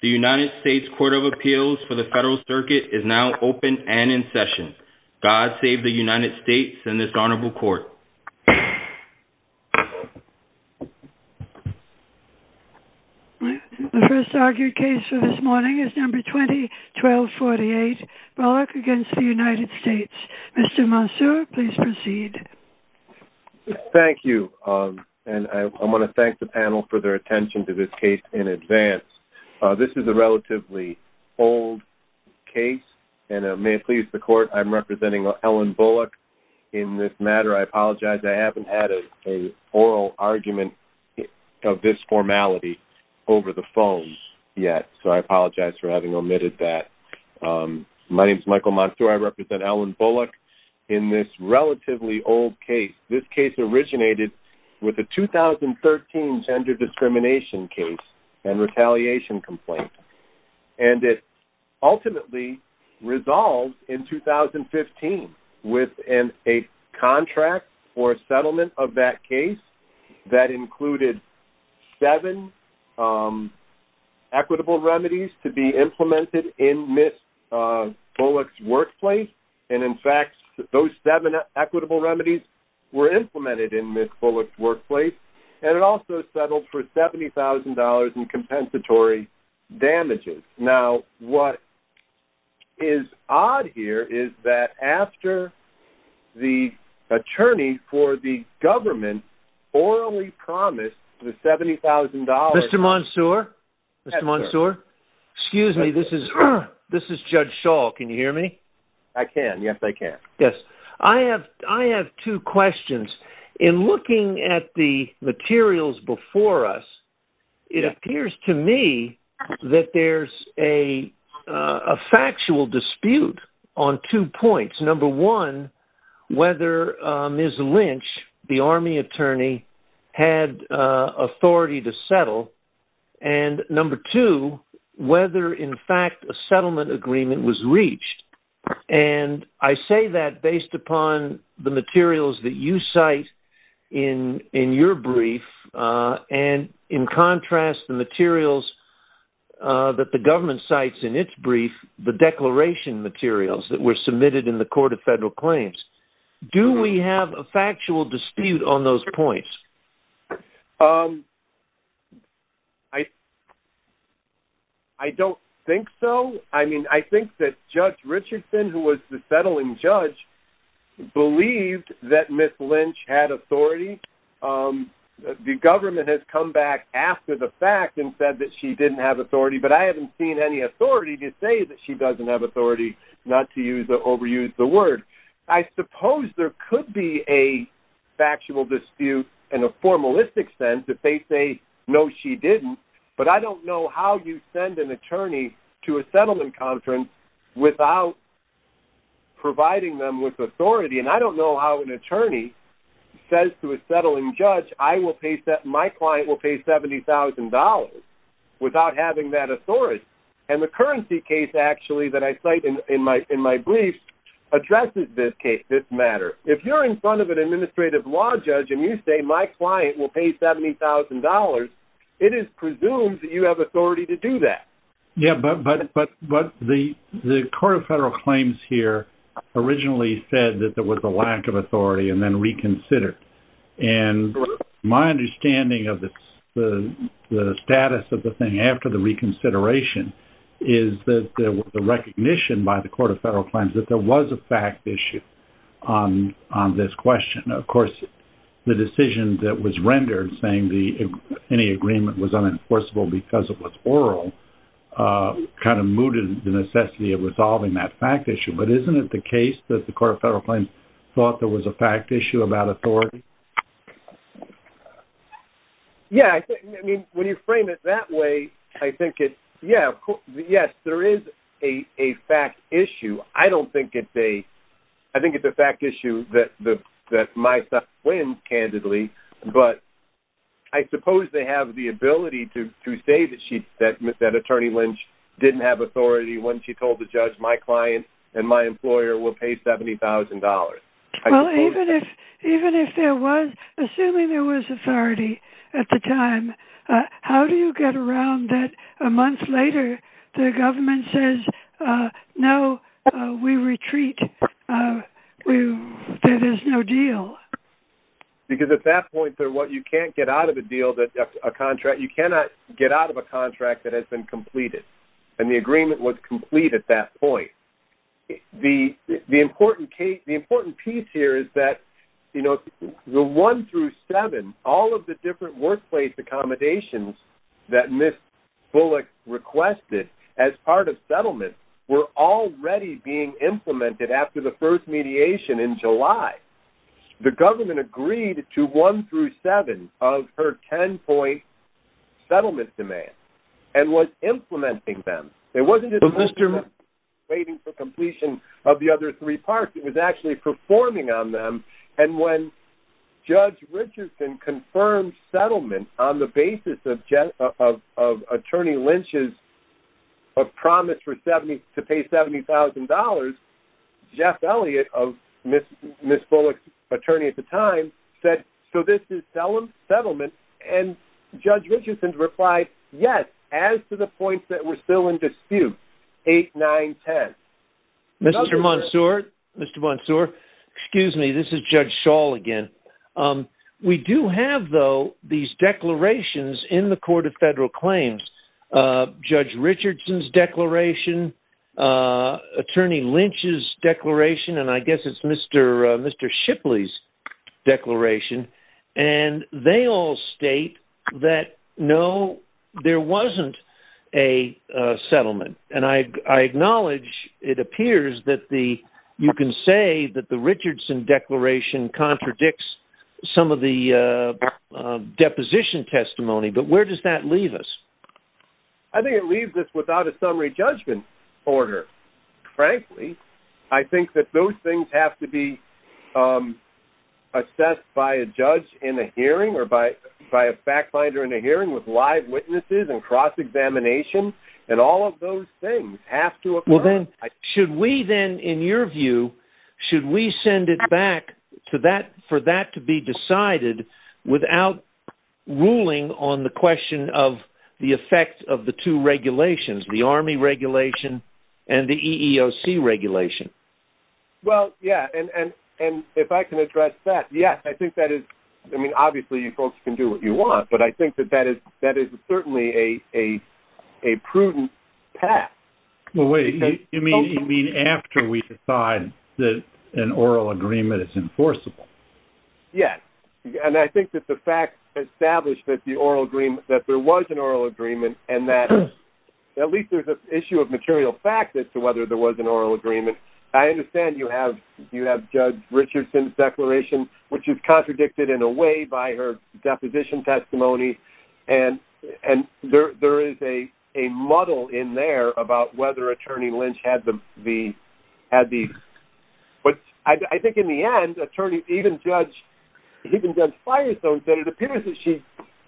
The United States Court of Appeals for the Federal Circuit is now open and in session. God save the United States and this Honorable Court. The first argued case for this morning is number 20-1248, Bollock v. United States. Mr. Mansour, please proceed. Thank you and I want to thank the panel for their attention to this case in advance. This is a relatively old case and may it please the court I'm representing Ellen Bollock in this matter. I apologize I haven't had an oral argument of this formality over the phone yet so I apologize for having omitted that. My name is Michael Mansour. I represent Ellen Bollock in this relatively old case. This case originated with a 2013 gender discrimination case and retaliation complaint and it ultimately resolved in 2015 within a contract for settlement of that case that included seven equitable remedies were implemented in Ms. Bollock's workplace and it also settled for $70,000 in compensatory damages. Now what is odd here is that after the attorney for the government orally promised the $70,000... Mr. Mansour, Mr. Mansour, excuse me this is Judge Shaw. Can you hear me? I can, yes I can. Yes, I have I have two questions. In looking at the materials before us, it appears to me that there's a factual dispute on two points. Number one, whether Ms. Lynch, the army attorney, had authority to settle and number two, whether in fact a settlement agreement was reached and I say that based upon the materials that you cite in in your brief and in contrast the materials that the government cites in its brief, the declaration materials that were submitted in the Court of Federal Claims. Do we have a factual dispute on those points? I don't think so. I mean I think that Judge Richardson, who was the settling judge, believed that Ms. Lynch had authority. The government has come back after the fact and said that she didn't have authority but I haven't seen any authority to say that she doesn't have authority, not to overuse the word. I suppose there could be a factual dispute in a formalistic sense if they say no she didn't but I don't know how you send an attorney to a settlement conference without providing them with authority and I don't know how an attorney says to a settling judge I will pay that my client will pay $70,000 without having that authority and the site in my brief addresses this case, this matter. If you're in front of an administrative law judge and you say my client will pay $70,000, it is presumed that you have authority to do that. Yeah but the Court of Federal Claims here originally said that there was a lack of authority and then reconsidered and my understanding of the status of the thing after the recognition by the Court of Federal Claims that there was a fact issue on this question. Of course the decision that was rendered saying the any agreement was unenforceable because it was oral kind of mooted the necessity of resolving that fact issue but isn't it the case that the Court of Federal Claims thought there was a fact issue about authority? Yeah when you frame it that way I think it yeah yes there is a fact issue. I don't think it's a I think it's a fact issue that the that my stuff wins candidly but I suppose they have the ability to say that she said that attorney Lynch didn't have authority when she told the judge my client and my employer will pay $70,000. Well even if even if there was assuming there was authority at the time how do you get around that a month later the government says no we retreat there is no deal? Because at that point there what you can't get out of a deal that a contract you cannot get out of a contract that has been completed and the agreement was complete at that point. The important case the important piece here is that you know the one through seven all of the different workplace accommodations that Ms. Bullock requested as part of settlement were already being implemented after the first mediation in July. The government agreed to one through seven of her ten point settlement demands and was implementing them. It wasn't a Mr. waiting for completion of the other three parts it was actually performing on them and when Judge Richardson confirmed settlement on the basis of attorney Lynch's promise for 70 to pay $70,000 Jeff Elliott of Ms. Bullock's attorney at the time said so this is settlement and Judge Richardson's replied yes as to the points that were still in dispute eight nine ten. Mr. Monsoor excuse me this is Judge Schall again we do have though these declarations in the Court of Federal Claims Judge Richardson's declaration attorney Lynch's declaration and I guess it's Mr. Mr. Shipley's declaration and they all state that no there wasn't a settlement and I acknowledge it appears that the you can say that the Richardson declaration contradicts some of the deposition testimony but where does that leave us? I think it leaves us without a summary judgment order frankly I think that those things have to be assessed by a judge in a hearing or by by a fact finder in a hearing with live witnesses and cross-examination and all of those things have to occur. Should we then in your view should we send it back to that for that to be decided without ruling on the question of the effect of the two regulations the Army regulation and the EEOC regulation? Well yeah and and if I can address that yes I think that is I mean obviously you folks can do what you want but I think that that is certainly a a prudent path. Well wait you mean after we decide that an oral agreement is enforceable? Yes and I think that the fact established that the oral agreement that there was an oral agreement and that at least there's an issue of material fact as to whether there was an oral agreement I understand you have you have Judge Richardson's declaration which is contradicted in a way by her deposition testimony and and there there is a a muddle in there about whether attorney Lynch had the had the but I think in the end attorney even Judge Firestone said it appears that she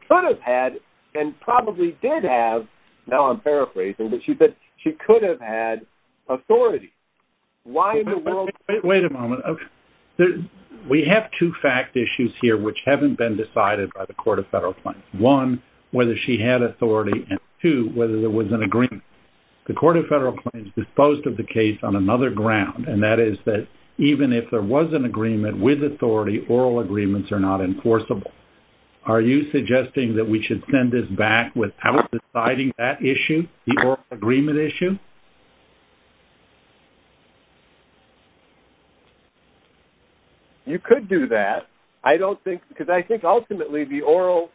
could have had and probably did have now I'm paraphrasing but she said she could have had authority. Why in the we have two fact issues here which haven't been decided by the Court of Federal Claims. One whether she had authority and two whether there was an agreement. The Court of Federal Claims disposed of the case on another ground and that is that even if there was an agreement with authority oral agreements are not enforceable. Are you suggesting that we should send this back without deciding that issue the oral agreement issue? You could do that I don't think because I think ultimately the oral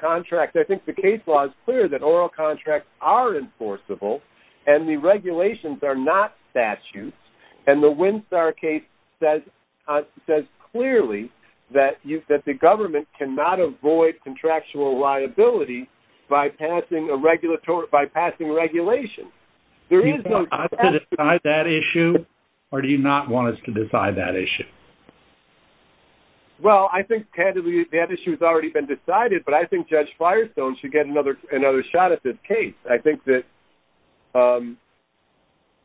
contract I think the case law is clear that oral contracts are enforceable and the regulations are not statutes and the Winstar case says clearly that you that the government cannot avoid contractual liability by passing a regulatory by passing regulation. There is no... Do you want us to decide that issue or do you not want us to decide that issue? Well I think candidly that issue has already been decided but I think Judge Firestone should get another another shot at this case. I think that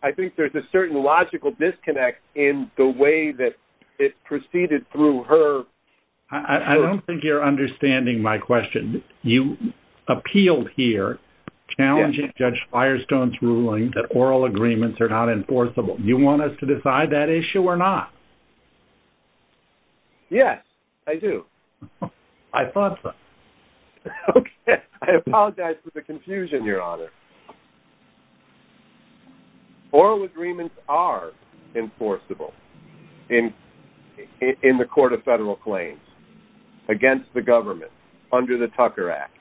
I think there's a certain logical disconnect in the way that it proceeded through her... I don't think you're understanding my question. You appealed here challenging Judge Firestone's ruling that oral agreements are not enforceable. You want us to decide that issue or not? Yes I do. I thought so. Okay I apologize for the confusion your honor. Oral agreements are enforceable in in the Court of Federal Claims against the government under the Tucker Act.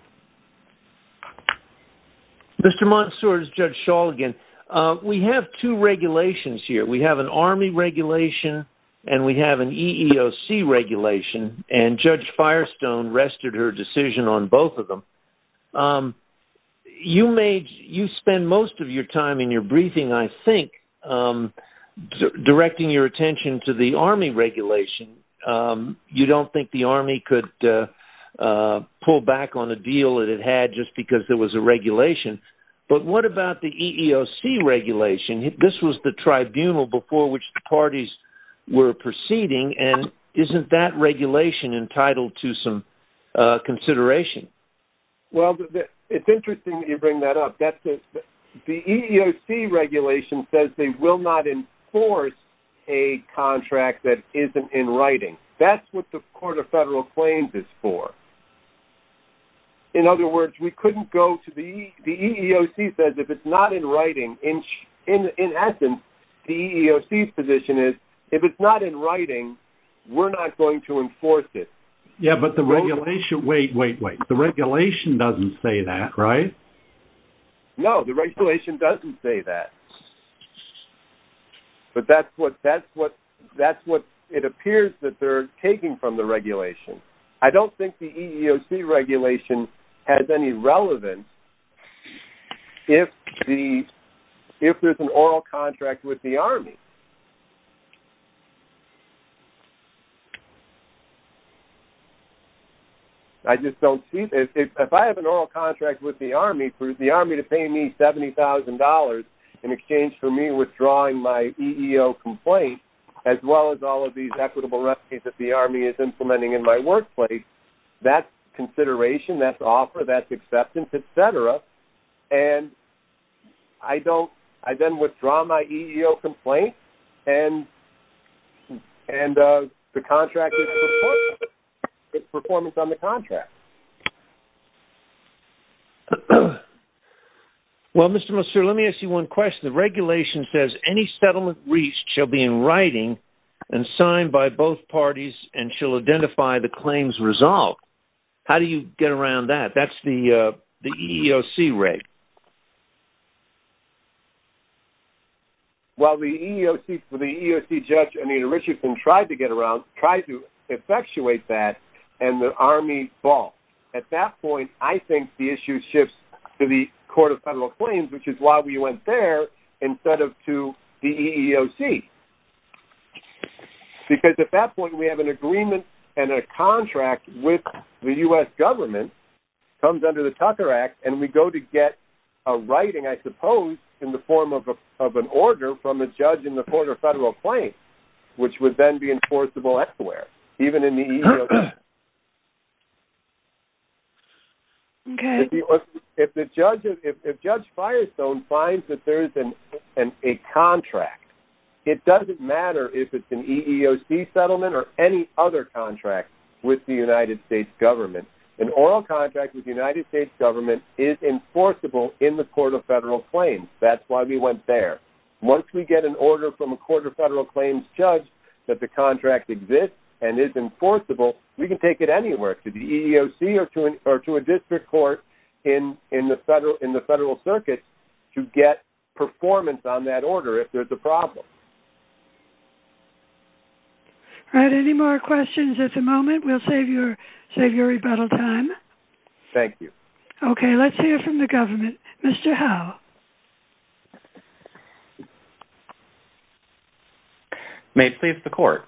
Mr. Montsouris, Judge Schall again. We have two regulations here. We have an army regulation and we have an EEOC regulation and Judge Firestone rested her decision on both of them. You made you spend most of your time in your briefing I think directing your attention to the army regulation. You don't think the army could pull back on a deal that it had just because there was a regulation but what about the EEOC regulation? This was the tribunal before which the parties were proceeding and isn't that regulation entitled to some consideration? Well it's interesting you bring that up. The EEOC regulation says they will not enforce a contract that isn't in writing. That's what the Court of Federal Claims is for. In other words we couldn't go to the the EEOC says if it's not in writing in in essence the EEOC's position is if it's not in writing we're not going to enforce it. Yeah but the regulation wait wait wait the regulation doesn't say that right? No the regulation doesn't say that but that's what that's what that's what it appears that they're taking from the regulation. I don't think the EEOC regulation has any relevance if the if there's an oral contract with the army. I for the army to pay me $70,000 in exchange for me withdrawing my EEO complaint as well as all of these equitable rescues that the army is implementing in my workplace that's consideration that's offer that's acceptance etc and I don't I then withdraw my EEO complaint and and the contract performance on the contract. Well Mr. Monsieur let me ask you one question the regulation says any settlement reached shall be in writing and signed by both parties and shall identify the claims resolved. How do you get around that? That's the the EEOC regulation. Well the EEOC for the EEOC judge Anita Richardson tried to get around tried to effectuate that and the army ball at that point I think the issue shifts to the Court of Federal Claims which is why we went there instead of to the EEOC because at that point we have an agreement and a contract with the US government comes under the Tucker Act and we go to get a writing I suppose in the form of a of an order from the judge in the Court of Federal Claims which would then be enforceable elsewhere even in the EEOC. If the judge if Judge Firestone finds that there is an a contract it doesn't matter if it's an EEOC settlement or any other contract with the United States government an oral contract with the United States government is enforceable in the Court of Federal Claims that's why we went there. Once we get an order from a Court of Federal Claims judge that the contract exists and is enforceable we can take it anywhere to the EEOC or to an or to a district court in in the federal in the federal circuit to get performance on that order if there's a problem. All right any more questions at the moment we'll save your save your rebuttal time. Thank you. Okay let's hear from the judge. May please the court.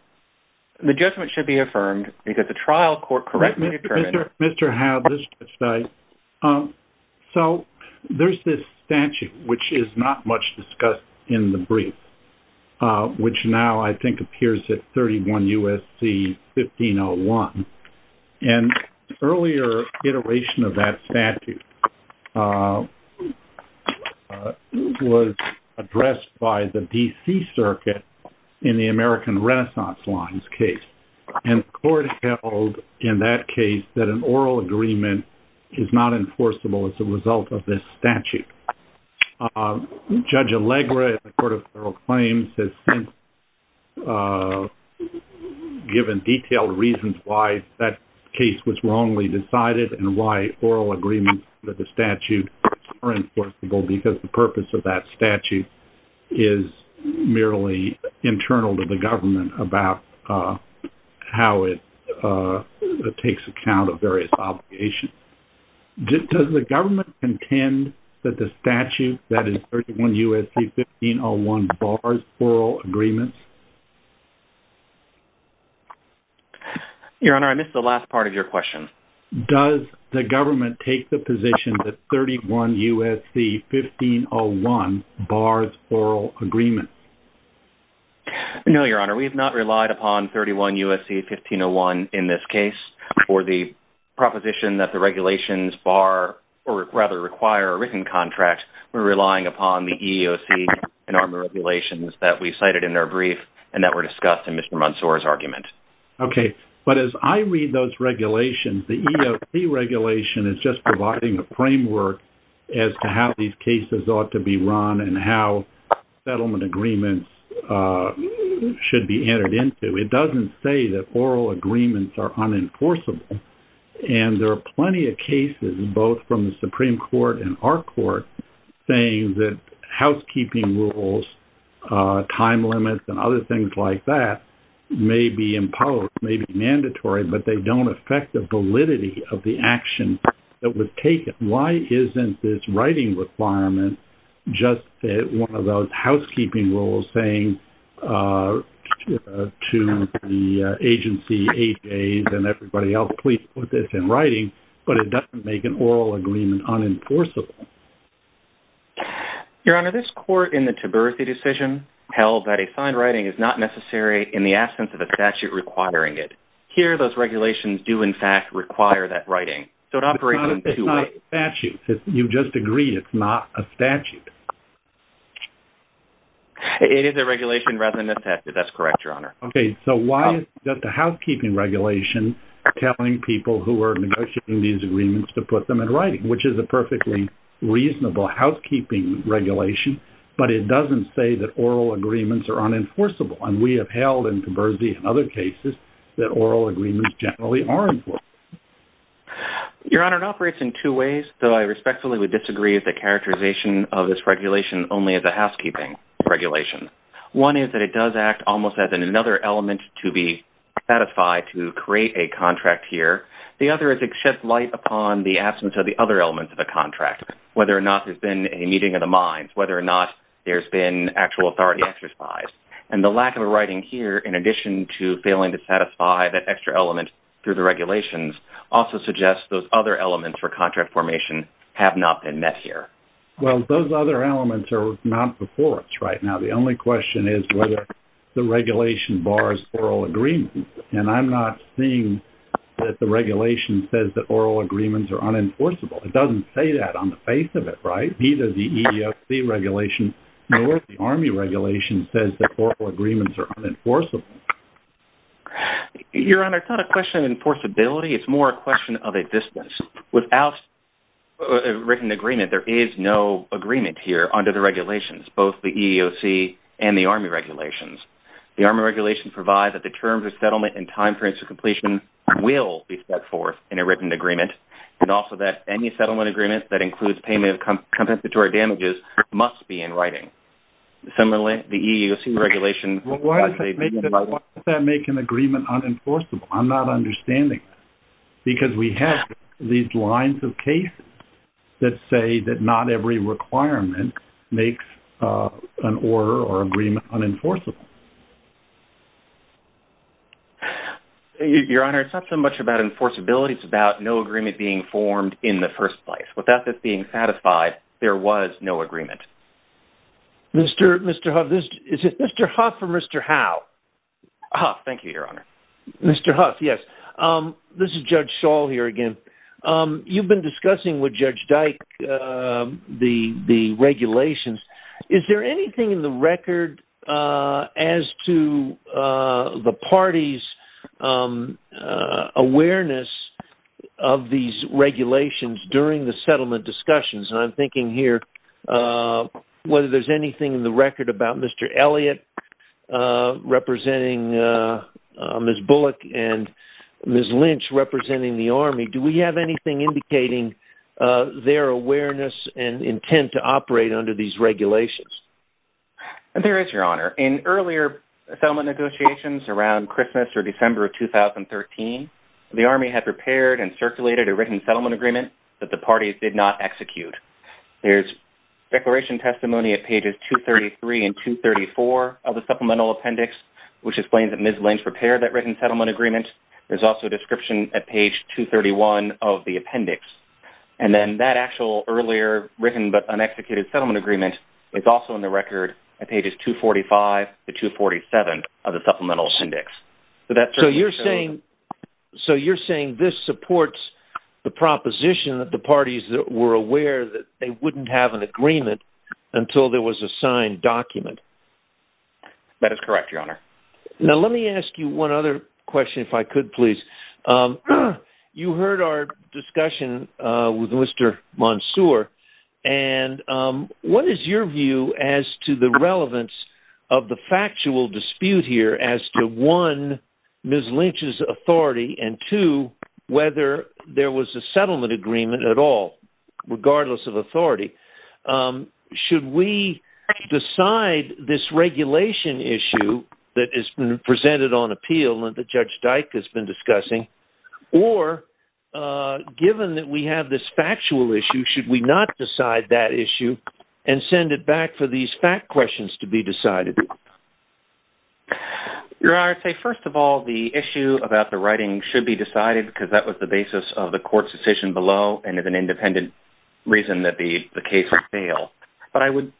The judgment should be affirmed because the trial court correct me. Mr. Howe, this is Mr. Stites. So there's this statute which is not much discussed in the brief which now I think appears at 31 USC 1501 and earlier iteration of that statute was addressed by the DC Circuit in the American Renaissance lines case and court held in that case that an oral agreement is not enforceable as a result of this statute. Judge Allegra in the Court of Federal Claims has since given detailed reasons why that case was wrongly decided and why oral agreements that the statute are enforceable because the purpose of that statute is merely internal to the government about how it takes account of various obligations. Does the government intend that the statute that is 31 USC 1501 bars oral agreements? Your Honor, I missed the last part of your question. Does the government take the position that 31 USC 1501 bars oral agreements? No Your Honor, we have not relied upon 31 USC 1501 in this case or the proposition that the regulations bar or rather require a written contract. We're relying upon the EEOC and ARMA regulations that we cited in our brief and that were discussed in Mr. Mansour's argument. Okay, but as I read those regulations the EEOC regulation is just providing a framework as to how these cases ought to be run and how settlement agreements should be entered into. It doesn't say that oral agreements are unenforceable and there are plenty of cases both from the housekeeping rules, time limits, and other things like that may be imposed, may be mandatory, but they don't affect the validity of the action that was taken. Why isn't this writing requirement just one of those housekeeping rules saying to the agency and everybody else please put this in writing but it doesn't make an oral agreement unenforceable. Your Honor, this court in the Tiberii decision held that a signed writing is not necessary in the absence of a statute requiring it. Here those regulations do in fact require that writing. It's not a statute. You just agree it's not a statute. It is a regulation rather than a statute. That's correct, Your Honor. Okay, so why is just a put them in writing which is a perfectly reasonable housekeeping regulation but it doesn't say that oral agreements are unenforceable and we have held in Tiberii and other cases that oral agreements generally are enforced. Your Honor, it operates in two ways though I respectfully would disagree with the characterization of this regulation only as a housekeeping regulation. One is that it does act almost as in another element to be satisfied to create a contract here. The other is it sheds light upon the absence of the other elements of a contract whether or not there's been a meeting of the minds, whether or not there's been actual authority exercised and the lack of a writing here in addition to failing to satisfy that extra element through the regulations also suggests those other elements for contract formation have not been met here. Well those other elements are not before us right now. The only question is whether the regulation bars oral agreement and I'm not seeing that the regulation says that oral agreements are unenforceable. It doesn't say that on the face of it, right? Neither the EEOC regulation nor the Army regulation says that oral agreements are unenforceable. Your Honor, it's not a question of enforceability, it's more a question of a distance. Without a written agreement there is no agreement here under the regulations both the EEOC and the Army regulations. The Army regulations provide that the terms of settlement and time periods of completion will be set forth in a written agreement and also that any settlement agreement that includes payment of compensatory damages must be in writing. Similarly the EEOC regulation... Why does that make an agreement unenforceable? I'm not understanding because we have these lines of case that say that not every requirement makes an order or agreement unenforceable. Your Honor, it's not so much about enforceability, it's about no agreement being formed in the first place. Without this being satisfied there was no agreement. Mr. Huff, is it Mr. Huff or Mr. Howe? Huff, thank you, Your Honor. Mr. Huff, yes. This is Judge Schall here again. You've been discussing with Judge Dyke the regulations. Is there anything in the record as to the party's awareness of these regulations during the settlement discussions? I'm thinking here whether there's anything in the record about Mr. Elliott representing Ms. Bullock and Ms. Lynch representing the Army. Do we have anything indicating their awareness and intent to operate under these regulations? There is, Your Honor. In earlier settlement negotiations around Christmas or December of 2013, the Army had prepared and circulated a written settlement agreement that the parties did not execute. There's declaration testimony at pages 233 and 234 of the supplemental appendix which explains that Ms. Lynch prepared that written settlement agreement. There's also a description at page 231 of the appendix and then that actual earlier written but un-executed settlement agreement is also in the record at pages 245 to 247 of the supplemental appendix. So you're saying this supports the proposition that the parties that were aware that they wouldn't have an agreement until there was a signed document? That is correct, Your Honor. Now let me ask you one other question if I could please. You heard our discussion with Mr. Monsoor and what is your view as to the relevance of the factual dispute here as to, one, Ms. Lynch's authority and, two, whether there was a settlement agreement at all regardless of authority? Should we decide this regulation issue that has been presented on appeal and that Judge Dyke has been discussing or given that we have this factual issue should we not decide that issue and send it back for these fact questions to be decided? Your Honor, I'd say first of all the issue about the writing should be decided because that was the basis of the court's decision below and as an independent reason that the case would fail. But I would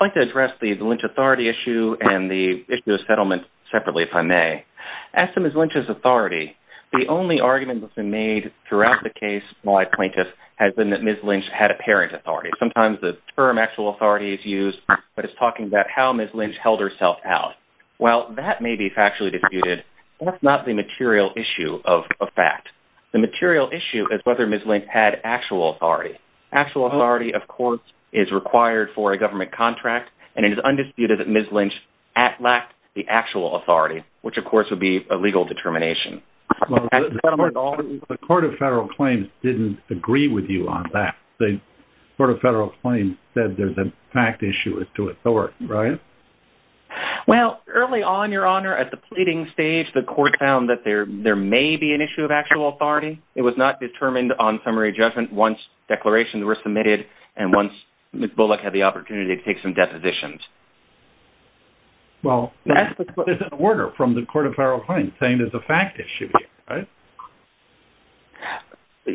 like to address the Lynch authority issue and the issue of settlement separately if I may. As to Ms. Lynch's authority, the only argument that's been made throughout the case by plaintiffs has been that Ms. Lynch had apparent authority. Sometimes the term actual authority is used but it's talking about how Ms. Lynch held herself out. While that may be factually disputed, that's not the material issue of a fact. The material issue is whether Ms. Lynch had actual authority. Actual authority, of course, is required for a government contract and it is undisputed that Ms. Lynch lacked the actual authority, which of course would be a legal determination. The Court of Federal Claims didn't agree with you on that. The Court of Federal Claims said there's a fact issue as to authority, right? Well, early on, Your Honor, at the pleading stage the court found that there may be an issue of actual authority. It was not determined on summary judgment once declarations were submitted and once Ms. Bullock had the opportunity to make some depositions. Well, there's an order from the Court of Federal Claims saying there's a fact issue, right?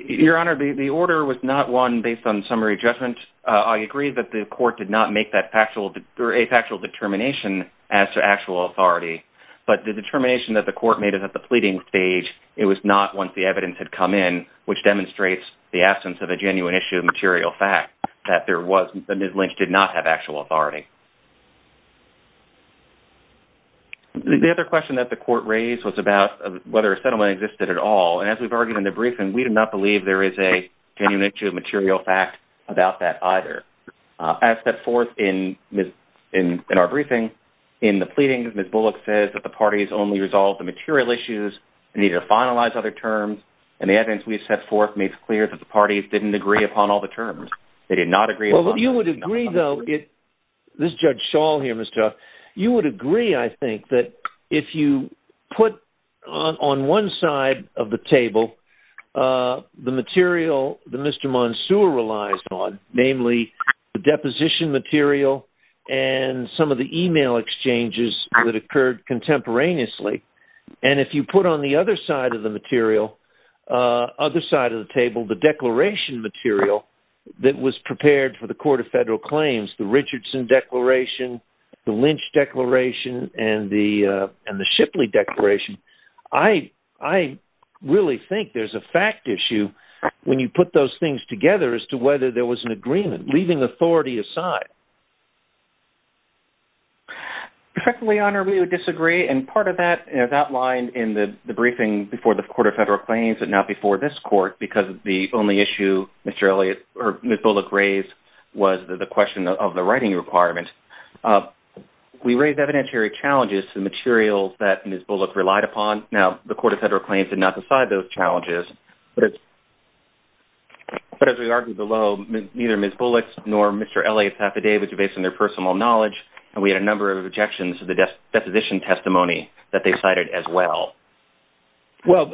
Your Honor, the order was not one based on summary judgment. I agree that the court did not make that factual or a factual determination as to actual authority, but the determination that the court made it at the pleading stage, it was not once the evidence had come in, which demonstrates the absence of a genuine issue of material fact, that Ms. Bullock lacked the actual authority. The other question that the court raised was about whether a settlement existed at all, and as we've argued in the briefing, we do not believe there is a genuine issue of material fact about that either. As set forth in our briefing, in the pleading, Ms. Bullock says that the parties only resolved the material issues and needed to finalize other terms, and the evidence we've set forth makes clear that the parties didn't agree upon all the terms. They did not agree upon all the terms. Well, you would agree, though, this Judge Schall here, you would agree, I think, that if you put on one side of the table the material that Mr. Monsoor relies on, namely the deposition material and some of the email exchanges that occurred contemporaneously, and if you put on the other side of the material, other side of the table, the material that was prepared for the Court of Federal Claims, the Richardson Declaration, the Lynch Declaration, and the and the Shipley Declaration, I really think there's a fact issue when you put those things together as to whether there was an agreement, leaving authority aside. Perfectly, Your Honor, we would disagree, and part of that is outlined in the briefing before the Court of Federal Claims, and now before this court, because it's the only issue Ms. Bullock raised was the question of the writing requirement, we raised evidentiary challenges to the materials that Ms. Bullock relied upon. Now, the Court of Federal Claims did not decide those challenges, but as we argued below, neither Ms. Bullock nor Mr. Elliott's affidavits were based on their personal knowledge, and we had a number of objections to the deposition testimony that they cited as well. Well,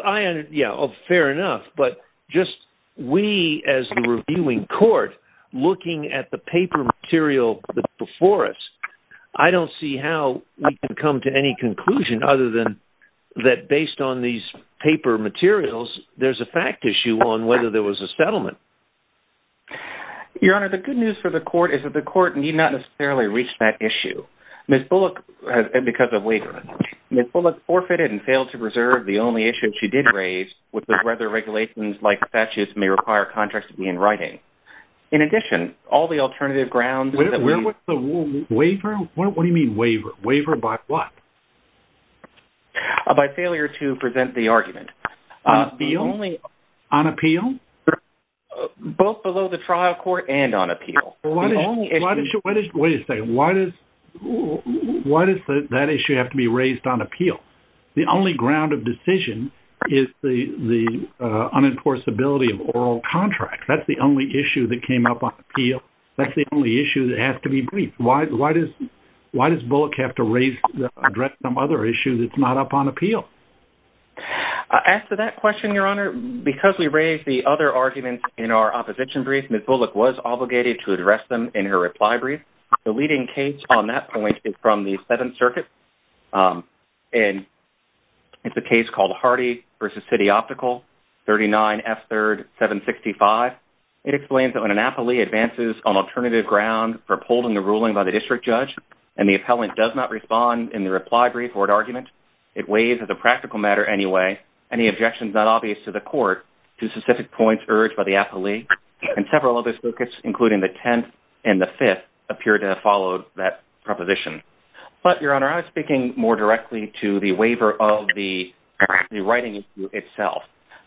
yeah, fair enough, but just we as the reviewing court looking at the paper material before us, I don't see how we can come to any conclusion other than that based on these paper materials there's a fact issue on whether there was a settlement. Your Honor, the good news for the court is that the court need not necessarily reach that issue. Ms. Bullock, because of waiver, Ms. Bullock forfeited and failed to preserve the only issue she did raise, which was whether regulations like statutes may require contracts to be in writing. In addition, all the alternative grounds... Where was the waiver? What do you mean waiver? Waiver by what? By failure to present the argument. On appeal? Both below the trial court and on appeal. Why does that issue have to be raised on appeal? The only ground of decision is the unenforceability of oral contracts. That's the only issue that came up on appeal. That's the only issue that has to be briefed. Why does Bullock have to address some other issue that's not up on appeal? As to that question, Your Honor, because we raised the other brief, the leading case on that point is from the Seventh Circuit. It's a case called Hardy v. City Optical, 39 F. 3rd 765. It explains that when an appellee advances on alternative ground for upholding the ruling by the district judge and the appellant does not respond in the reply brief or an argument, it weighs as a practical matter anyway, any objections not obvious to the court, to specific points urged by the appellee, and several other focus including the Tenth and the Fifth appear to have followed that proposition. But, Your Honor, I was speaking more directly to the waiver of the writing itself.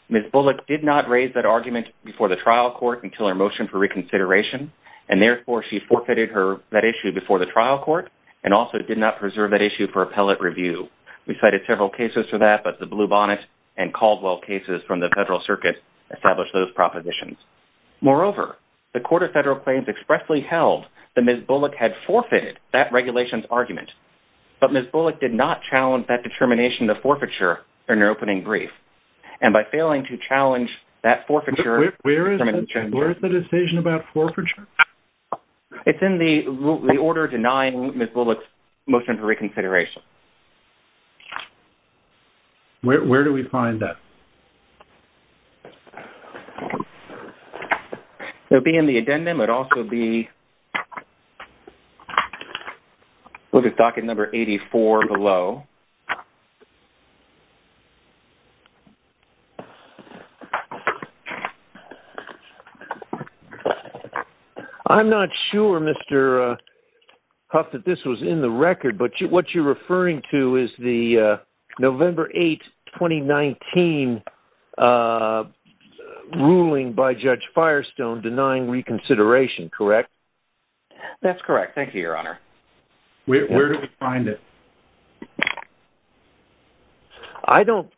Ms. Bullock did not raise that argument before the trial court until her motion for reconsideration, and therefore she forfeited that issue before the trial court and also did not preserve that issue for appellate review. We cited several cases for that, but the Blue Bonnet and Caldwell cases from the Federal Circuit established those propositions. Moreover, the Court of Expressly held that Ms. Bullock had forfeited that regulations argument, but Ms. Bullock did not challenge that determination of forfeiture in her opening brief, and by failing to challenge that forfeiture... Where is the decision about forfeiture? It's in the order denying Ms. Bullock's motion for the... Look at docket number 84 below. I'm not sure, Mr. Huff, that this was in the record, but what you're referring to is the November 8, 2019 ruling by Judge Firestone denying reconsideration, correct? That's correct. Thank you, Your Honor. Where did we find it? I don't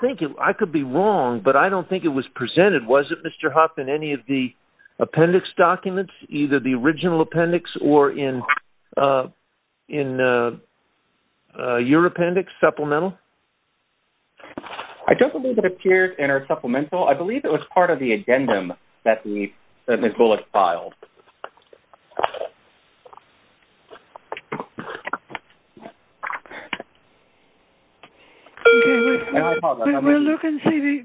think... I could be wrong, but I don't think it was presented, was it, Mr. Huff, in any of the appendix documents, either the original appendix or in your appendix, supplemental? I don't believe it was in the item that Ms. Bullock filed.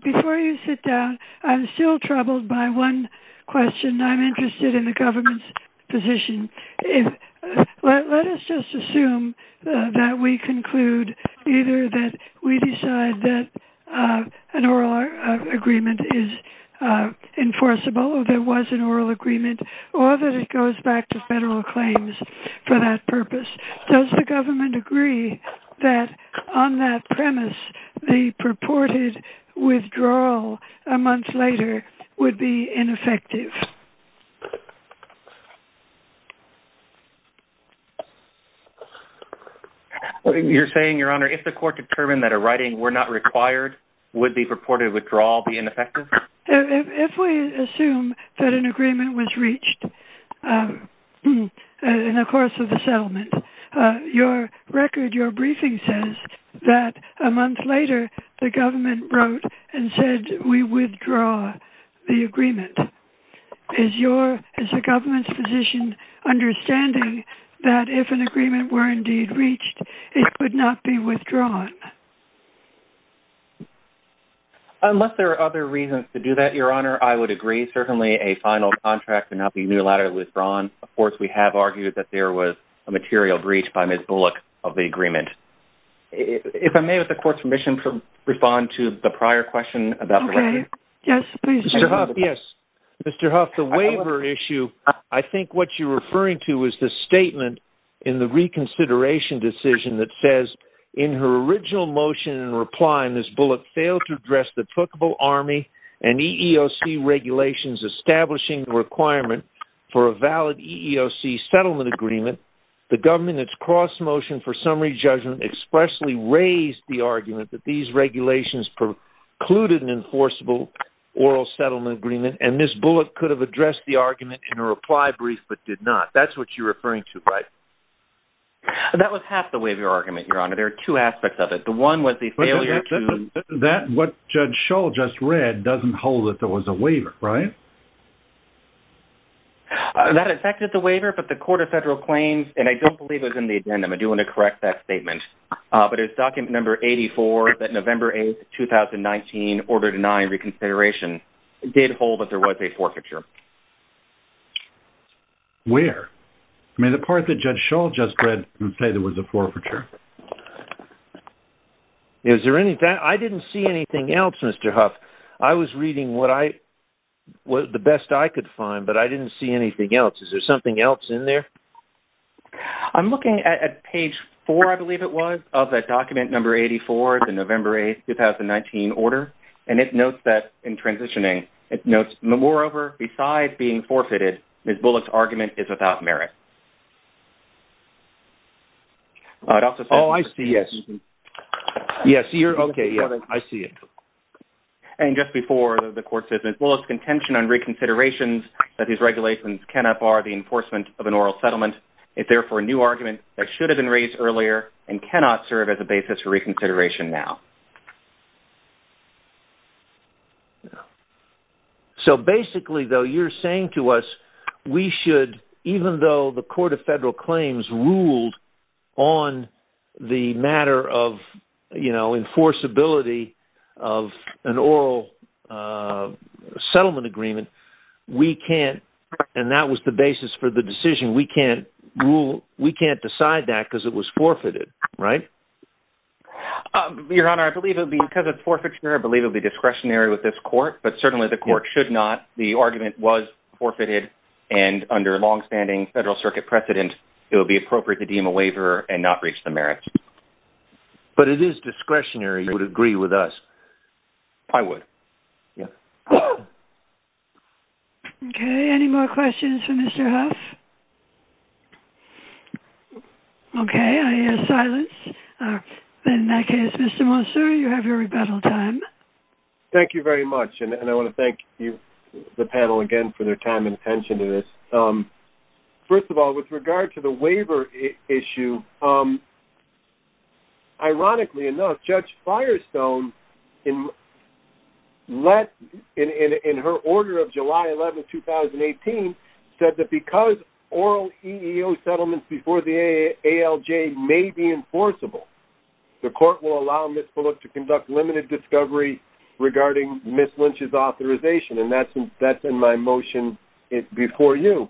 Before you sit down, I'm still troubled by one question. I'm interested in the government's position. Let us just assume that we conclude either that we was an oral agreement or that it goes back to federal claims for that purpose. Does the government agree that on that premise, the purported withdrawal a month later would be ineffective? You're saying, Your Honor, if the court determined that a writing were not required, would the purported withdrawal be ineffective? If we assume that an agreement was reached in the course of the settlement, your record, your briefing says that a month later, the government wrote and said, we withdraw the agreement. Is the government's position understanding that if an agreement were indeed reached, it could not be withdrawn? Unless there are other reasons to do that, Your Honor, I would agree, certainly a final contract and not be unilaterally withdrawn. Of course, we have argued that there was a material breach by Ms. Bullock of the agreement. If I may, with the court's permission, respond to the prior question about the record. Okay. Yes, please. Mr. Huff, yes. Mr. Huff, the waiver issue, I think what you're referring to is the statement in the consideration decision that says, in her original motion and reply, Ms. Bullock failed to address the applicable Army and EEOC regulations establishing the requirement for a valid EEOC settlement agreement. The government that's cross-motion for summary judgment expressly raised the argument that these regulations precluded an enforceable oral settlement agreement, and Ms. Bullock could have addressed the argument in a reply brief but did not. That's what you're referring to, right? That was half the waiver argument, Your Honor. There are two aspects of it. The one was the failure to... What Judge Schull just read doesn't hold that there was a waiver, right? That affected the waiver, but the Court of Federal Claims, and I don't believe it was in the addendum, I do want to correct that statement, but it's document number 84 that November 8th, 2019, order denying reconsideration did hold that there was a forfeiture. Where? I mean, the part that Judge Schull just read didn't say there was a forfeiture. Is there any... I didn't see anything else, Mr. Huff. I was reading what I... what the best I could find, but I didn't see anything else. Is there something else in there? I'm looking at page 4, I believe it was, of that document number 84, the November 8th, 2019, order, and it notes that, in transitioning, it notes, moreover, besides being forfeited, Ms. Bullock's argument is without merit. Oh, I see, yes. Yes, you're... Okay, yeah. I see it. And just before the court says, Ms. Bullock's contention on reconsiderations that these regulations cannot bar the enforcement of an oral settlement is therefore a new argument that should have been raised earlier and cannot serve as a basis for reconsideration now. So, basically, though, you're saying to us we should, even though the Court of Federal Claims ruled on the matter of, you know, enforceability of an oral settlement agreement, we can't, and that was the basis for the decision, we can't rule, we can't decide that because it was forfeited, right? Your Honor, I believe it'll be, because it's forfeiture, I believe it'll be discretionary with this court, but certainly the court should not, the argument was forfeited, and under long-standing Federal Circuit precedent, it would be appropriate to deem a waiver and not breach the merits. But it is discretionary, you would agree with us. I would, yes. Okay, any more questions for Mr. Huff? Okay, I hear silence. In that case, Mr. Monsour, you have your rebuttal time. Thank you very much, and I want to thank the panel again for their time and attention to this. First of all, with regard to the waiver issue, ironically enough, Judge Firestone in her order of July 11, 2018, said that because oral EEO settlements before the ALJ may be enforceable, the court will allow Ms. Bullock to conduct limited discovery regarding Ms. Lynch's authorization, and that's in my motion before you,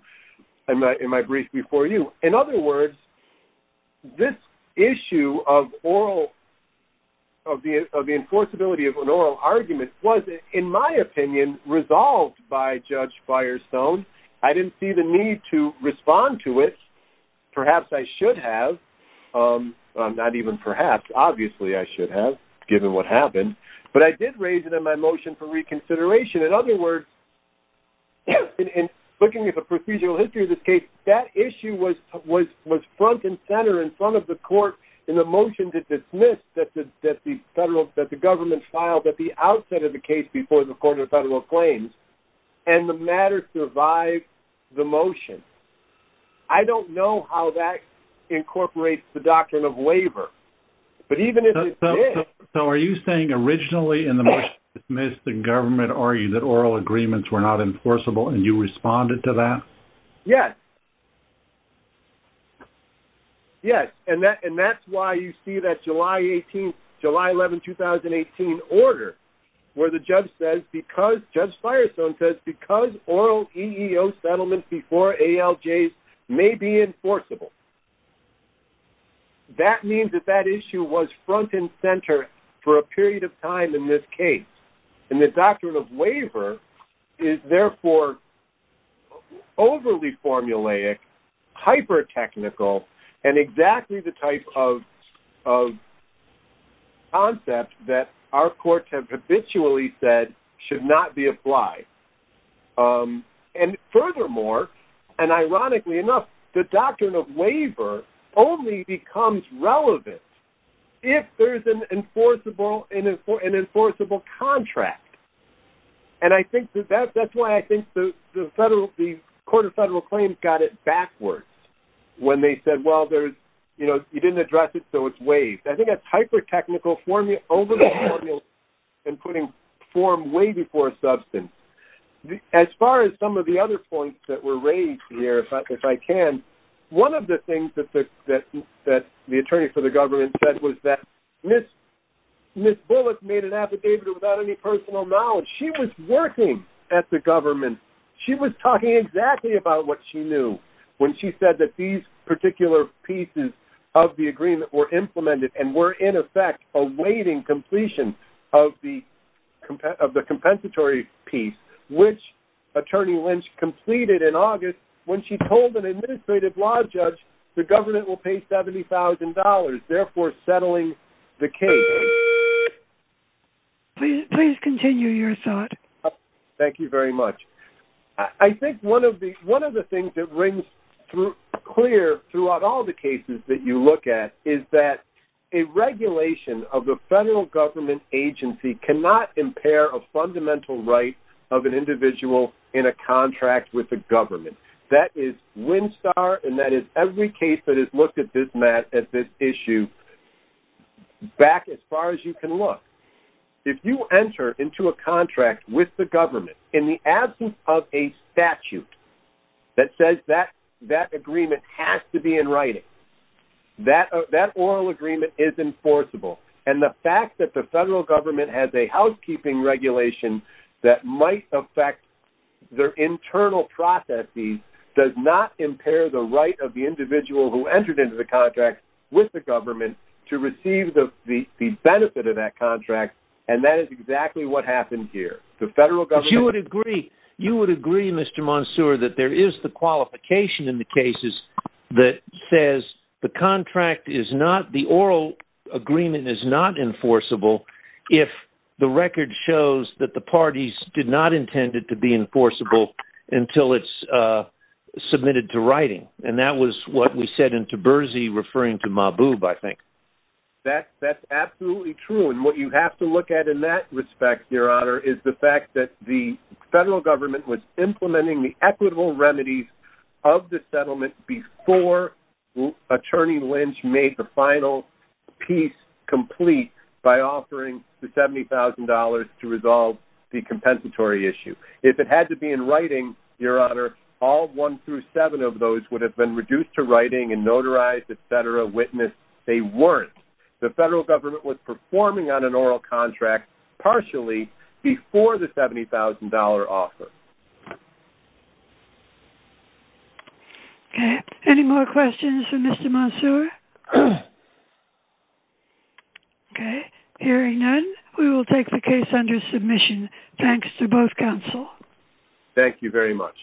in my brief before you. In other words, this issue of the enforceability of an oral argument was, in my opinion, resolved by Judge Firestone. I didn't see the need to respond to it. Perhaps I should have. Not even perhaps, obviously I should have, given what happened. But I did raise it in my motion for reconsideration. In other words, in looking at the procedural history of this case, that issue was front and center in front of the court in the motion to dismiss that the government filed at the outset of the case before the Court of Federal Claims, and the matter survived the motion. I don't know how that incorporates the doctrine of waiver, but even if it did So are you saying originally in the motion to dismiss, the government argued that oral agreements were not enforceable, and you responded to that? Yes. Yes. And that's why you see that July 18th, July 11, 2018 order where the judge says because, Judge Firestone says, because oral EEO settlements before ALJs may be enforceable. That means that that issue was front and center for a period of time in this overly formulaic, hyper-technical, and exactly the type of concept that our courts have habitually said should not be applied. And furthermore, and ironically enough, the doctrine of waiver only becomes relevant if there's an enforceable contract. And I think that that's why I think the Court of Federal Claims got it backwards when they said, well, you didn't address it, so it's waived. I think that's hyper-technical, overly formulaic, and putting form way before substance. As far as some of the other points that were raised here, if I can, one of the things that the attorney for the government said was that Ms. Bullock made an affidavit without any personal knowledge. She was working at the government. She was talking exactly about what she knew when she said that these particular pieces of the agreement were implemented and were in effect awaiting completion of the compensatory piece, which Attorney Lynch completed in August when she told an administrative law judge the government will pay $70,000, therefore settling the case. Please continue your thought. Thank you very much. I think one of the things that rings clear throughout all the cases that you look at is that a regulation of the federal government agency cannot impair a fundamental right of an individual in a contract with the government. That is WinSTAR, and that is every case that has looked at this issue back at least as far as you can look. If you enter into a contract with the government in the absence of a statute that says that agreement has to be in writing, that oral agreement is enforceable, and the fact that the federal government has a housekeeping regulation that might affect their internal processes does not impair the right of the individual who entered into the contract with the government to receive the benefit of that contract, and that is exactly what happened here. You would agree, Mr. Monsoor, that there is the qualification in the cases that says the oral agreement is not enforceable if the record shows that the parties did not intend it to be enforceable until it's submitted to writing. And that was what we said in Taberzi referring to Mahbub, I think. That's absolutely true. And what you have to look at in that respect, Your Honor, is the fact that the federal government was implementing the equitable remedies of the settlement before Attorney Lynch made the final piece complete by offering the $70,000 to resolve the compensatory issue. If it had to be in writing, Your Honor, all one through seven of those would have been reduced to writing and notarized, et cetera, witnessed. They weren't. The federal government was performing on an oral contract partially before the $70,000 offer. Okay. Any more questions for Mr. Monsoor? Okay. Hearing none, we will take the case under submission. Thanks to both counsel. Thank you very much.